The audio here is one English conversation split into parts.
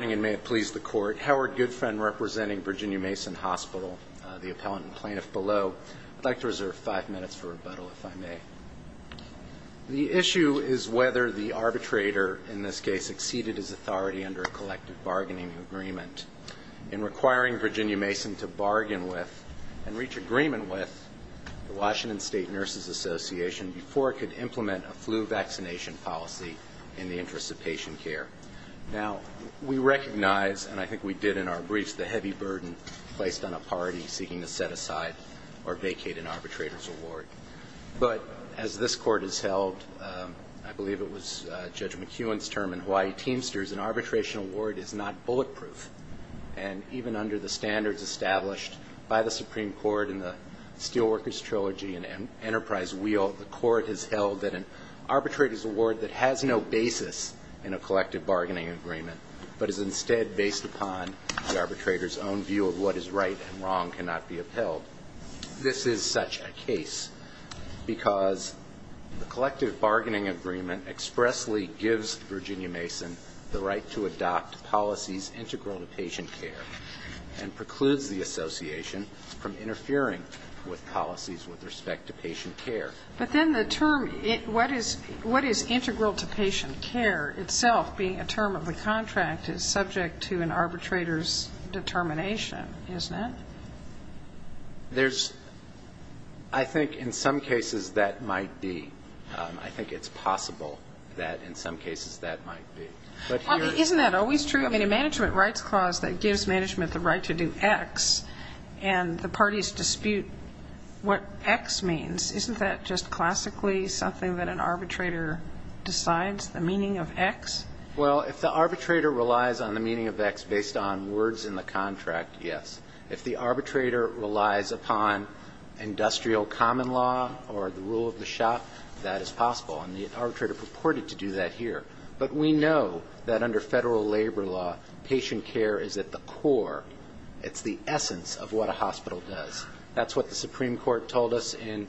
Howard Goodfriend representing Virginia Mason Hospital, the appellant and plaintiff below. I'd like to reserve five minutes for rebuttal, if I may. The issue is whether the arbitrator in this case exceeded his authority under a collective bargaining agreement in requiring Virginia Mason to bargain with and reach agreement with the Washington State Nurses Association before it could implement a flu vaccination policy in the interest of patient care. Now, we recognize, and I think we did in our briefs, the heavy burden placed on a party seeking to set aside or vacate an arbitrator's award. But as this Court has held, I believe it was Judge McEwen's term in Hawaii Teamsters, an arbitration award is not bulletproof. And even under the standards established by the Supreme Court in the Steelworkers Trilogy and Enterprise Wheel, the Court has held that an arbitrator's award that has no basis in a collective bargaining agreement, but is instead based upon the arbitrator's own view of what is right and wrong, cannot be upheld. This is such a case because the collective bargaining agreement expressly gives Virginia Mason the right to adopt policies integral to patient care and precludes the association from interfering with policies with respect to patient care. But then the term, what is integral to patient care itself being a term of the contract is subject to an arbitrator's determination, isn't it? There's, I think in some cases that might be. I think it's possible that in some cases that might be. Isn't that always true? In a management rights clause that gives management the right to do X and the parties dispute what X means, isn't that just classically something that an arbitrator decides, the meaning of X? Well, if the arbitrator relies on the meaning of X based on words in the contract, yes. If the arbitrator relies upon industrial common law or the rule of the shop, that is possible. And the arbitrator purported to do that here. But we know that under federal labor law, patient care is at the core. It's the essence of what a hospital does. That's what the Supreme Court told us in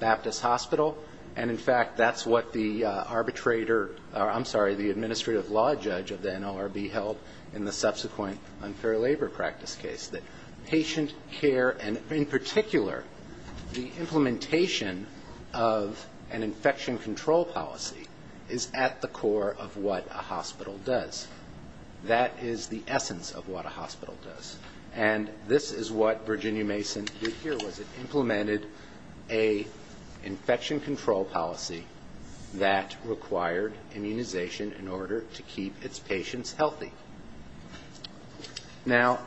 Baptist Hospital. And, in fact, that's what the arbitrator or, I'm sorry, the administrative law judge of the NLRB held in the subsequent unfair labor practice case. That patient care and, in particular, the implementation of an infection control policy is at the core of what a hospital does. That is the essence of what a hospital does. And this is what Virginia Mason did here, was it implemented an infection control policy that required immunization in order to keep its patients healthy. Now,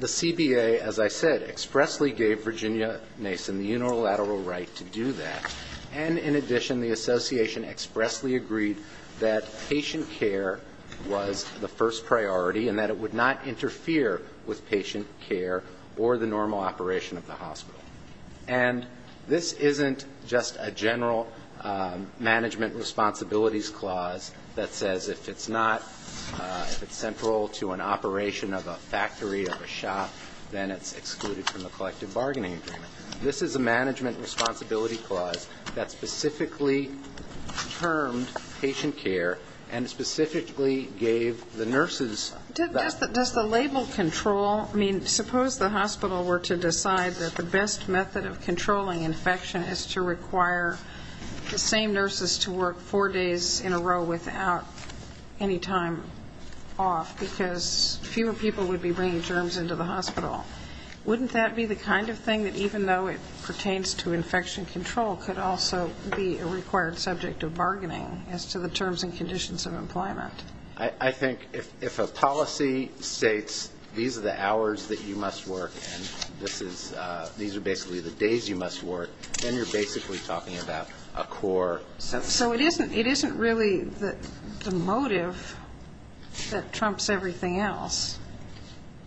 the CBA, as I said, expressly gave Virginia Mason the unilateral right to do that. And, in addition, the association expressly agreed that patient care was the first priority and that it would not interfere with patient care or the normal operation of the hospital. And this isn't just a general management responsibilities clause that says if it's not, if it says it's not, then it's not. If it's not central to an operation of a factory or a shop, then it's excluded from the collective bargaining agreement. This is a management responsibility clause that specifically termed patient care and specifically gave the nurses. Does the label control, I mean, suppose the hospital were to decide that the best method of controlling infection is to require the same nurses to work four days in a row without any time off. Because fewer people would be bringing germs into the hospital. Wouldn't that be the kind of thing that, even though it pertains to infection control, could also be a required subject of bargaining as to the terms and conditions of employment? I think if a policy states these are the hours that you must work and this is, these are basically the days you must work, then you're basically talking about a core. So it isn't, it isn't really the motive that trumps everything else.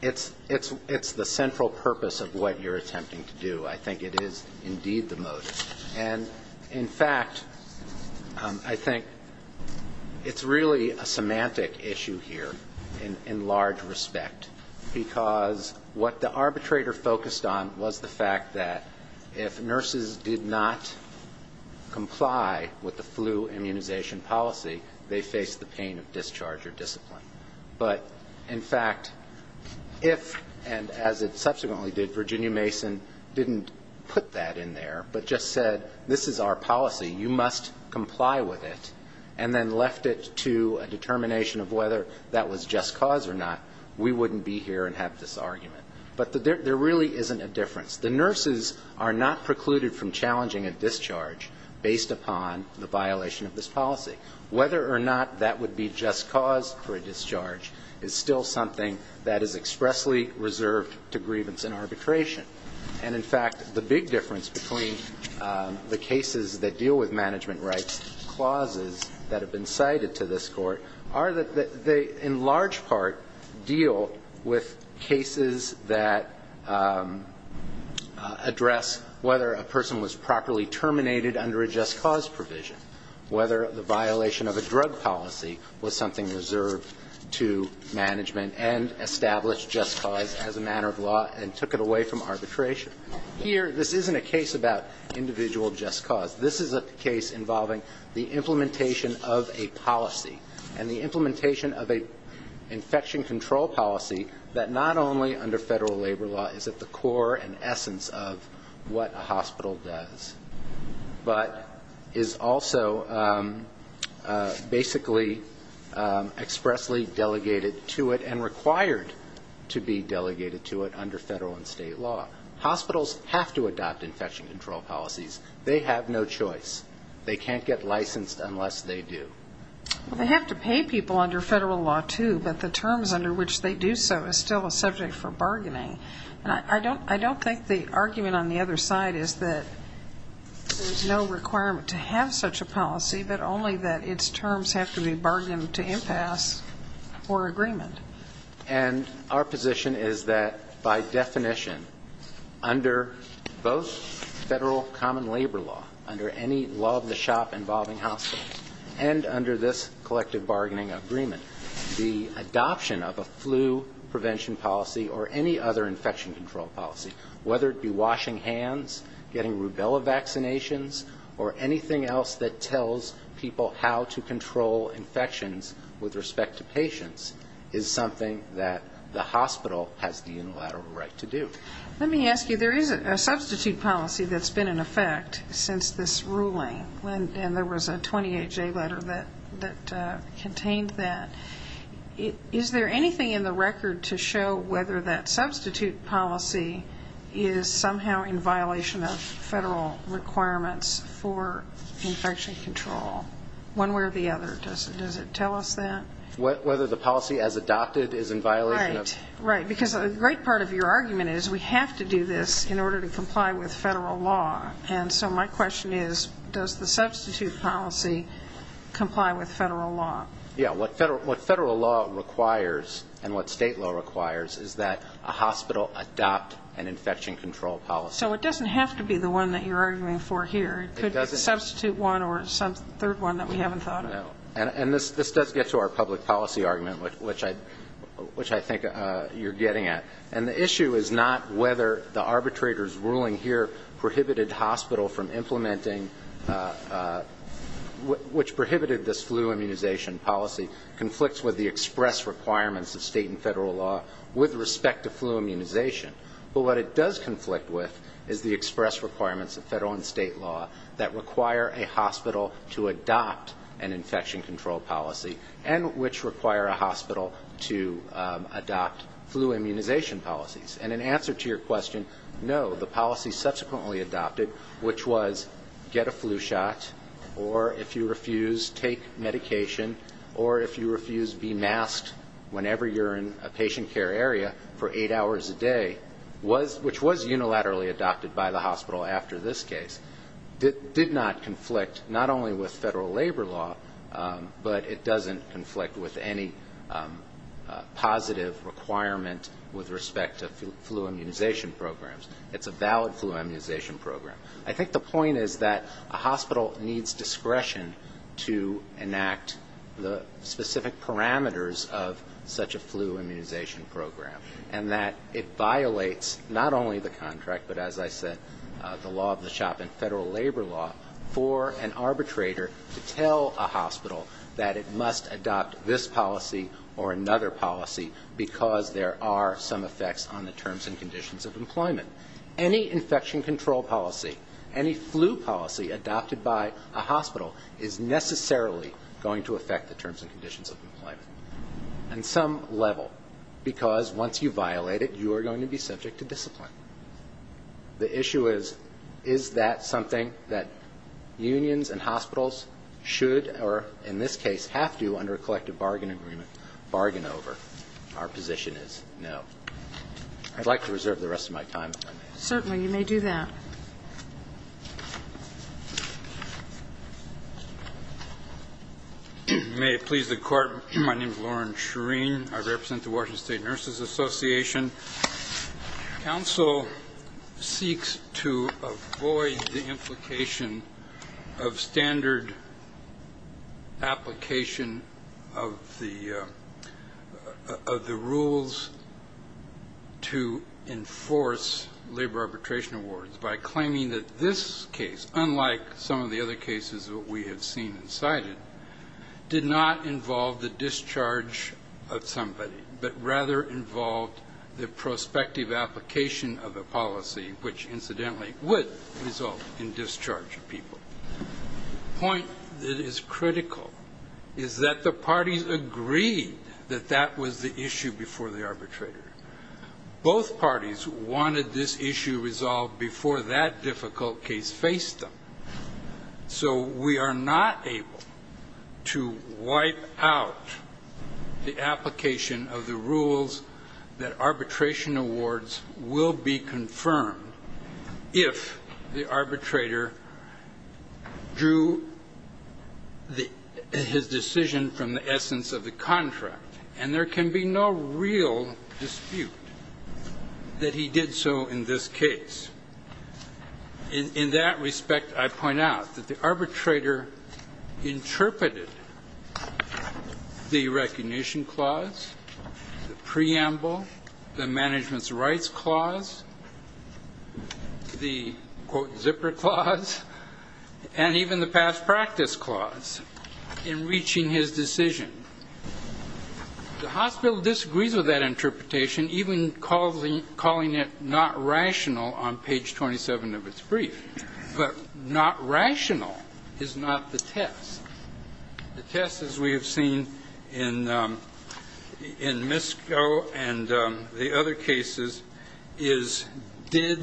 It's, it's, it's the central purpose of what you're attempting to do. I think it is indeed the motive. And in fact, I think it's really a semantic issue here in large respect. Because what the arbitrator focused on was the fact that if nurses did not comply with the terms and conditions of employment, they would not be able to work. With the flu immunization policy, they face the pain of discharge or discipline. But in fact, if, and as it subsequently did, Virginia Mason didn't put that in there, but just said, this is our policy, you must comply with it, and then left it to a determination of whether that was just cause or not, we wouldn't be here and have this argument. But there really isn't a difference. The violation of this policy. Whether or not that would be just cause for a discharge is still something that is expressly reserved to grievance and arbitration. And in fact, the big difference between the cases that deal with management rights clauses that have been cited to this Court are that they, in large part, deal with cases that address whether a person was properly terminated under a just cause provision. Whether the violation of a drug policy was something reserved to management and established just cause as a matter of law and took it away from arbitration. Here, this isn't a case about individual just cause. This is a case involving the implementation of a policy and the implementation of an infection control policy that not only under federal labor law is at the core and essence of what a hospital does, but is also at the core of what a hospital does. And is also basically expressly delegated to it and required to be delegated to it under federal and state law. Hospitals have to adopt infection control policies. They have no choice. They can't get licensed unless they do. They have to pay people under federal law, too, but the terms under which they do so is still a subject for bargaining. And I don't think the argument on the other side is that there's no requirement to have such a policy. But only that its terms have to be bargained to impasse or agreement. And our position is that, by definition, under both federal common labor law, under any law of the shop involving hospitals, and under this collective bargaining agreement, the adoption of a flu prevention policy or any other infection control policy, whether it be washing hands, getting rubella vaccinations, or anything else that tests the effectiveness of a flu prevention policy, and tells people how to control infections with respect to patients, is something that the hospital has the unilateral right to do. Let me ask you, there is a substitute policy that's been in effect since this ruling, and there was a 28-J letter that contained that. Is there anything in the record to show whether that substitute policy is somehow in violation of federal requirements for infection control? One way or the other, does it tell us that? Right. Because a great part of your argument is we have to do this in order to comply with federal law. And so my question is, does the substitute policy comply with federal law? Yeah, what federal law requires and what state law requires is that a hospital adopt an infection control policy. So it doesn't have to be the one that you're arguing for here. It could be a substitute one or a third one that we haven't thought of. No. And this does get to our public policy argument, which I think you're getting at. And the issue is not whether the arbitrator's ruling here prohibited hospital from implementing, which prohibited this flu immunization policy, conflicts with the express requirements of state and federal law with respect to flu immunization. But what it does conflict with is the express requirements of federal and state law that require a hospital to adopt an infection control policy, and which require a hospital to adopt flu immunization policies. And in answer to your question, no, the policy subsequently adopted, which was get a flu shot, or if you refuse, take medication, or if you refuse, be masked whenever you're in a patient care area for eight hours a day. Which was unilaterally adopted by the hospital after this case. It did not conflict not only with federal labor law, but it doesn't conflict with any positive requirement with respect to flu immunization programs. It's a valid flu immunization program. I think the point is that a hospital needs discretion to enact the specific parameters of such a flu immunization program, and that it violates not only the contract, but as I said, the law of the shop and federal labor law, for an arbitrator to tell a hospital that it must adopt this policy or another policy because there are some effects on the terms and conditions of employment. Any infection control policy, any flu policy adopted by a hospital is necessarily going to affect the terms and conditions of employment, on some level, because once you violate it, you are going to be subject to discipline. The issue is, is that something that unions and hospitals should, or in this case, have to, under a collective bargain agreement, bargain over? Our position is no. I'd like to reserve the rest of my time if I may. My name is Lauren Shereen. I represent the Washington State Nurses Association. Council seeks to avoid the implication of standard application of the rules to enforce labor arbitration awards by claiming that this case, unlike some of the other cases that we have seen and cited, did not involve the discharge of labor arbitration awards. It did not involve the discharge of somebody, but rather involved the prospective application of a policy, which incidentally would result in discharge of people. The point that is critical is that the parties agreed that that was the issue before the arbitrator. Both parties wanted this issue resolved before that difficult case faced them. So we are not able to wipe out the application of the rules that arbitration awards will be confirmed if the arbitrator drew his decision from the essence of the contract. And there can be no real dispute that he did so in this case. In that respect, I point out that the arbitrator interpreted the recognition clause, the preamble, the management's rights clause, the, quote, zipper clause, and even the past practice clause in reaching his decision. The hospital disagrees with that interpretation, even calling it not rational on paper. That's page 27 of its brief, but not rational is not the test. The test, as we have seen in Misko and the other cases, is did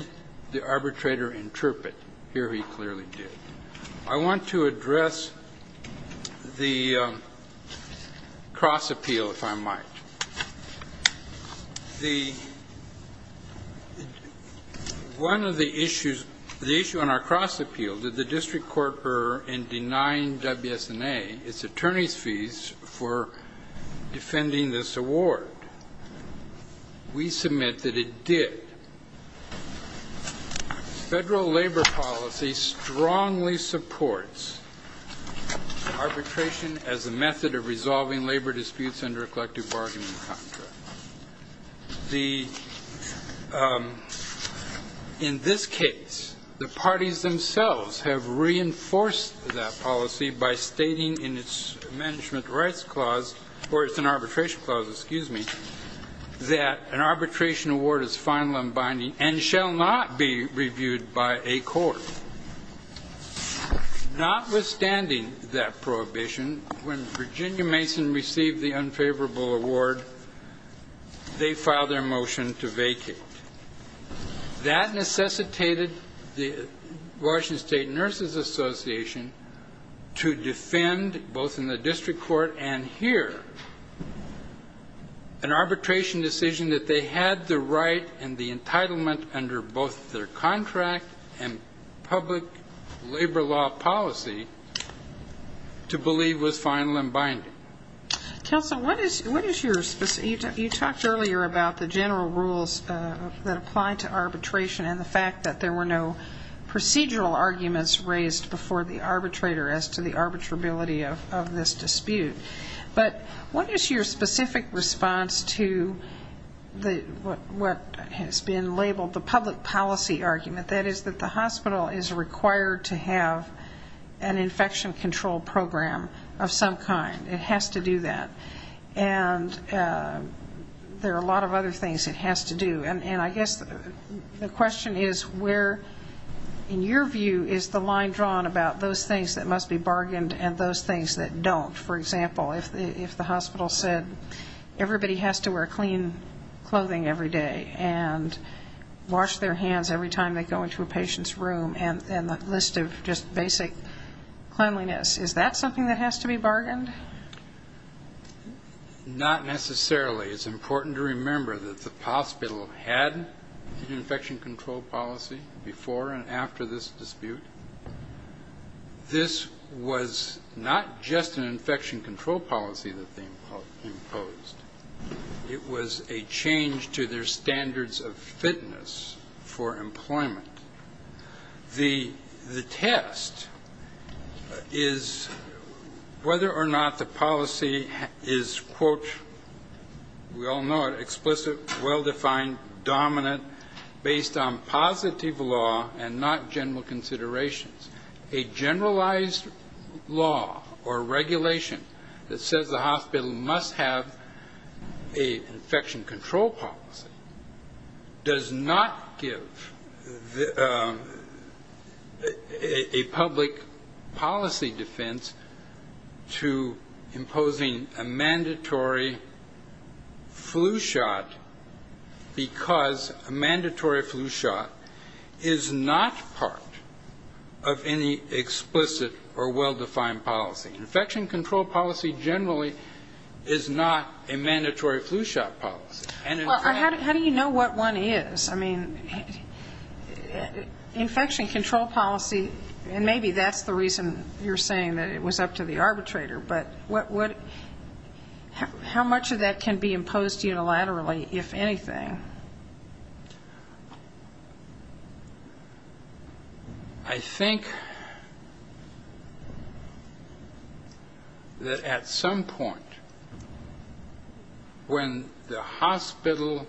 the arbitrator interpret? Here he clearly did. I want to address the cross-appeal, if I might. One of the issues, the issue on our cross-appeal, did the district court err in denying WSNA its attorney's fees for defending this award? We submit that it did. Federal labor policy strongly supports arbitration as a method of resolving labor disputes under a collective bargaining contract. The, in this case, the parties themselves have reinforced that policy by stating in its management's rights clause, or it's an arbitration clause, excuse me, that an arbitration award is final and binding and shall not be reviewed by a court. Notwithstanding that prohibition, when Virginia Mason received the unfavorable award, the district court did not approve it. They filed their motion to vacate. That necessitated the Washington State Nurses Association to defend, both in the district court and here, an arbitration decision that they had the right and the entitlement under both their contract and public labor law policy to believe was final and binding. Kelsa, what is your, you talked earlier about the general rules that apply to arbitration and the fact that there were no procedural arguments raised before the arbitrator as to the arbitrability of this dispute. But what is your specific response to what has been labeled the public policy argument, that is, that the hospital is required to have an infection control program of some kind? It has to do that, and there are a lot of other things it has to do. And I guess the question is where, in your view, is the line drawn about those things that must be bargained and those things that don't? For example, if the hospital said everybody has to wear clean clothing every day and wash their hands every time they go into a patient's room and the list of just basic cleanliness, is that something that has to be bargained? Not necessarily. It's important to remember that the hospital had an infection control policy before and after this dispute. This was not just an infection control policy that they imposed. It was a change to their standards of fitness for employment. The test is whether or not the policy is, quote, we all know it, explicit, well-defined, dominant, based on positive law and not general considerations. A generalized law or regulation that says the hospital must have an infection control policy does not give this kind of information. It is a public policy defense to imposing a mandatory flu shot because a mandatory flu shot is not part of any explicit or well-defined policy. Infection control policy generally is not a mandatory flu shot policy. Well, how do you know what one is? I mean, infection control policy, and maybe that's the reason you're saying that it was up to the arbitrator, but how much of that can be imposed unilaterally, if anything? I think that at some point, when the hospital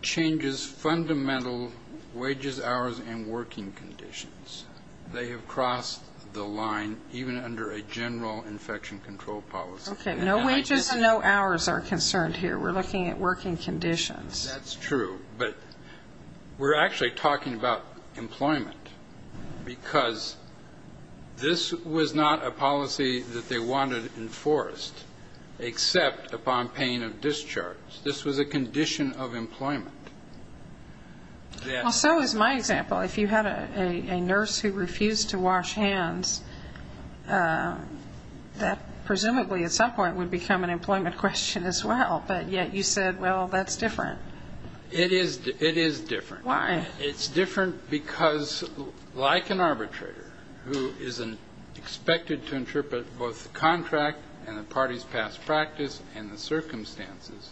decides to impose a mandatory flu shot, it's not just a matter of whether or not it's a mandatory flu shot. It's a matter of whether or not it's a mandatory flu shot. The hospital changes fundamental wages, hours, and working conditions. They have crossed the line, even under a general infection control policy. Okay, no wages and no hours are concerned here. We're looking at working conditions. That's true, but we're actually talking about employment, because this was not a policy that they wanted enforced, except upon paying additional taxes. This was a condition of employment. Well, so is my example. If you had a nurse who refused to wash hands, that presumably at some point would become an employment question as well, but yet you said, well, that's different. It is different. Why? It's different because, like an arbitrator, who is expected to interpret both the contract and the party's past practice and the circumstances,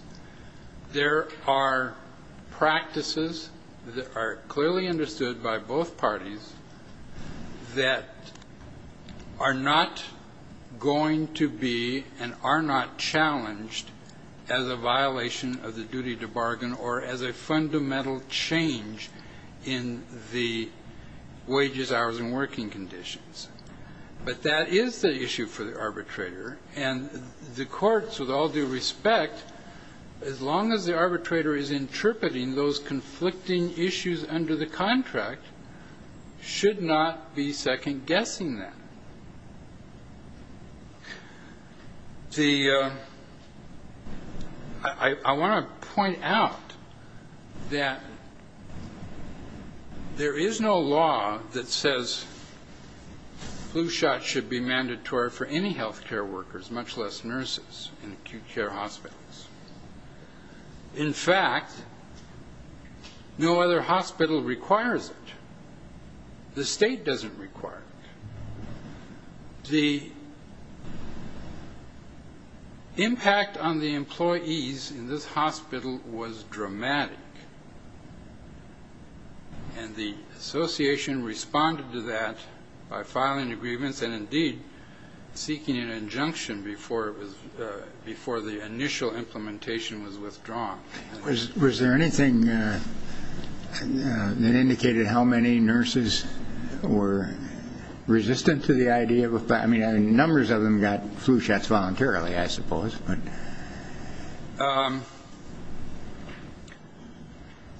there are practices that are clearly understood by both parties that are not going to be and are not challenged as a violation of the duty to bargain or as a fundamental change in the practice of the arbitration process. But that is the issue for the arbitrator, and the courts, with all due respect, as long as the arbitrator is interpreting those conflicting issues under the contract, should not be second-guessing that. I want to point out that there is no law that says flu shots should be mandatory for any health care workers, much less nurses in acute care hospitals. In fact, no other hospital requires it. The state doesn't require it. The impact on the employees in this hospital was dramatic. And the association responded to that by filing agreements and, indeed, seeking an injunction before the initial implementation was withdrawn. Was there anything that indicated how many nurses were resistant to the idea of a flu shot? I mean, numbers of them got flu shots voluntarily, I suppose.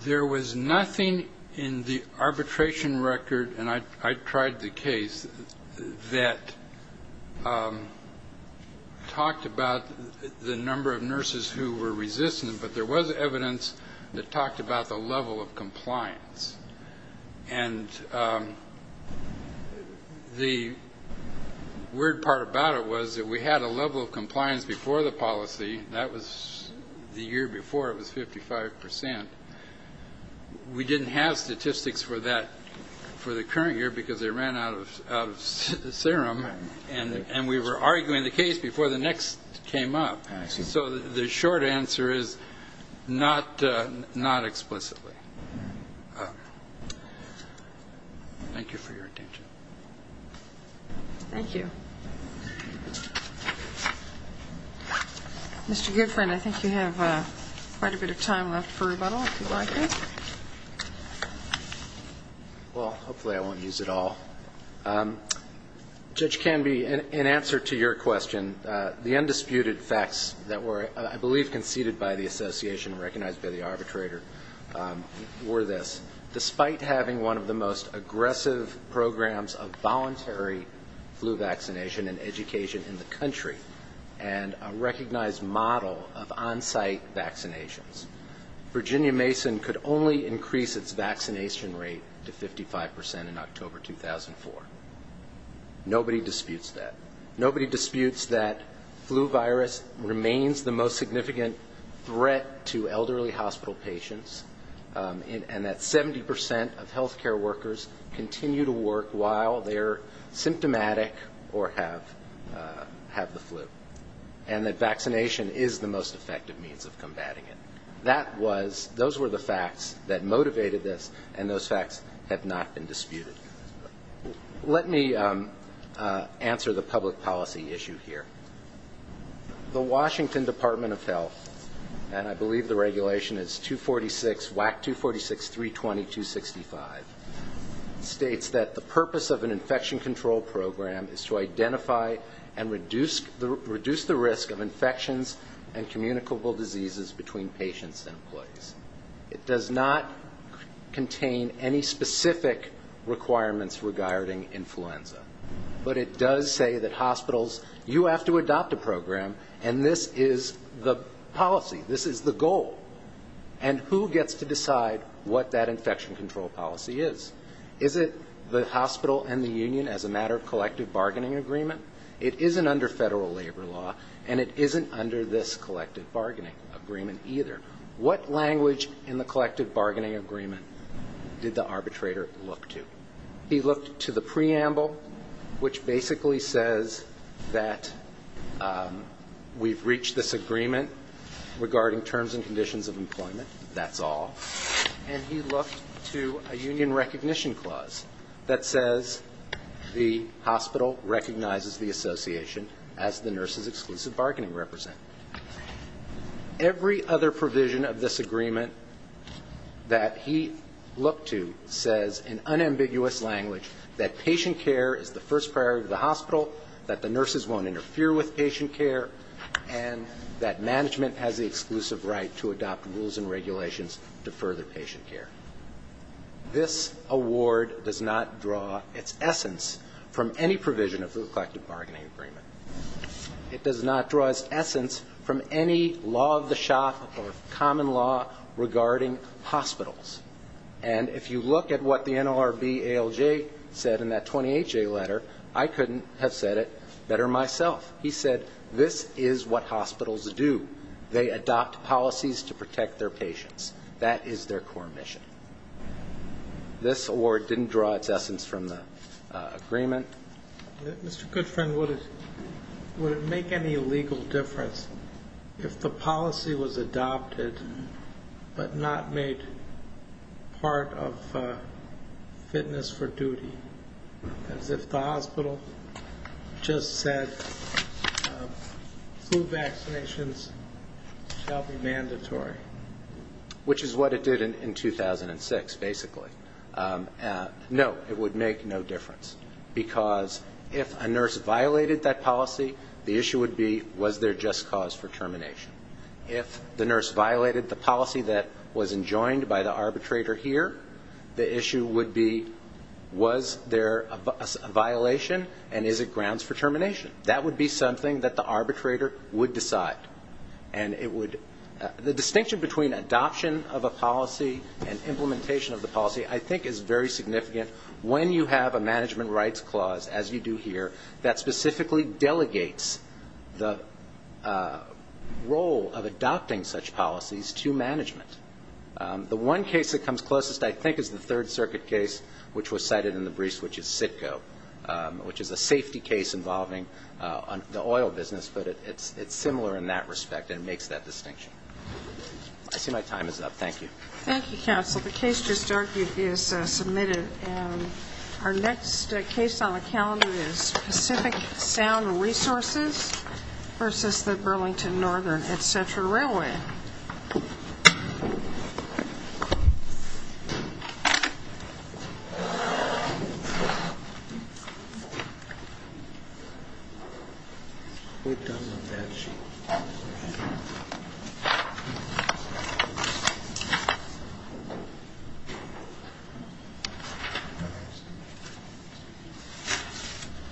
There was nothing in the arbitration record, and I tried the case, that talked about the number of nurses who were resistant. But there was evidence that talked about the level of compliance. And the weird part about it was that we had a level of compliance before the policy. That was the year before. It was 55 percent. We didn't have statistics for that for the current year because they ran out of serum, and we were arguing the case before the next came up. So the short answer is not explicitly. Thank you for your attention. Thank you. Mr. Goodfriend, I think you have quite a bit of time left for rebuttal, if you'd like it. Well, hopefully I won't use it all. Judge Canby, in answer to your question, the undisputed facts that were, I believe, conceded by the association and recognized by the arbitrator were this. Despite having one of the most aggressive programs of voluntary flu vaccination and education in the country, and a recognized model of onsite vaccinations, Virginia Mason could only increase its vaccination rate to 55 percent in October 2004. Nobody disputes that. Flu virus remains the most significant threat to elderly hospital patients, and that 70 percent of healthcare workers continue to work while they're symptomatic or have the flu. And that vaccination is the most effective means of combating it. Those were the facts that motivated this, and those facts have not been disputed. Let me answer the public policy issue here. The Washington Department of Health, and I believe the regulation is WAC 246.320.265, states that the purpose of an infection control program is to identify and reduce the risk of infections and communicable diseases between patients and employees. It does not contain any specific requirements regarding influenza, but it does say that hospitals, you have to adopt a program, and this is the policy, this is the goal. And who gets to decide what that infection control policy is? Is it the hospital and the union as a matter of collective bargaining agreement? It isn't under federal labor law, and it isn't under this language in the collective bargaining agreement did the arbitrator look to. He looked to the preamble, which basically says that we've reached this agreement regarding terms and conditions of employment, that's all, and he looked to a union recognition clause that says the hospital recognizes the association as the nurse's exclusive bargaining representative. Every other provision of this agreement that he looked to says in unambiguous language that patient care is the first priority of the hospital, that the nurses won't interfere with patient care, and that management has the exclusive right to adopt rules and regulations to further patient care. This award does not draw its essence from any provision of the collective bargaining agreement. It does not draw its essence from any law of the shop or common law regarding hospitals. And if you look at what the NLRB ALJ said in that 28-J letter, I couldn't have said it better myself. He said this is what hospitals do. They adopt policies to protect their patients. That is their core mission. This award didn't draw its essence from the agreement. Mr. Goodfriend, would it make any legal difference if the policy was adopted but not made part of fitness for duty, as if the hospital just said flu vaccinations shall be mandatory? Which is what it did in 2006, basically. No, it would make no difference, because it would make no difference. It would make no difference. The issue would be, was there just cause for termination? If the nurse violated the policy that was enjoined by the arbitrator here, the issue would be, was there a violation, and is it grounds for termination? That would be something that the arbitrator would decide. And it would the distinction between adoption of a policy and implementation of the policy, I think, is very significant when you have a management rights clause, as you do here, that specifically delegates the role of adopting such policies to management. The one case that comes closest, I think, is the Third Circuit case, which was cited in the briefs, which is CITCO, which is a safety case involving the oil business, but it's similar in that respect, and it makes that distinction. I see my case just argued is submitted. And our next case on the calendar is Pacific Sound Resources versus the Burlington Northern Etcetera Railway. Thank you.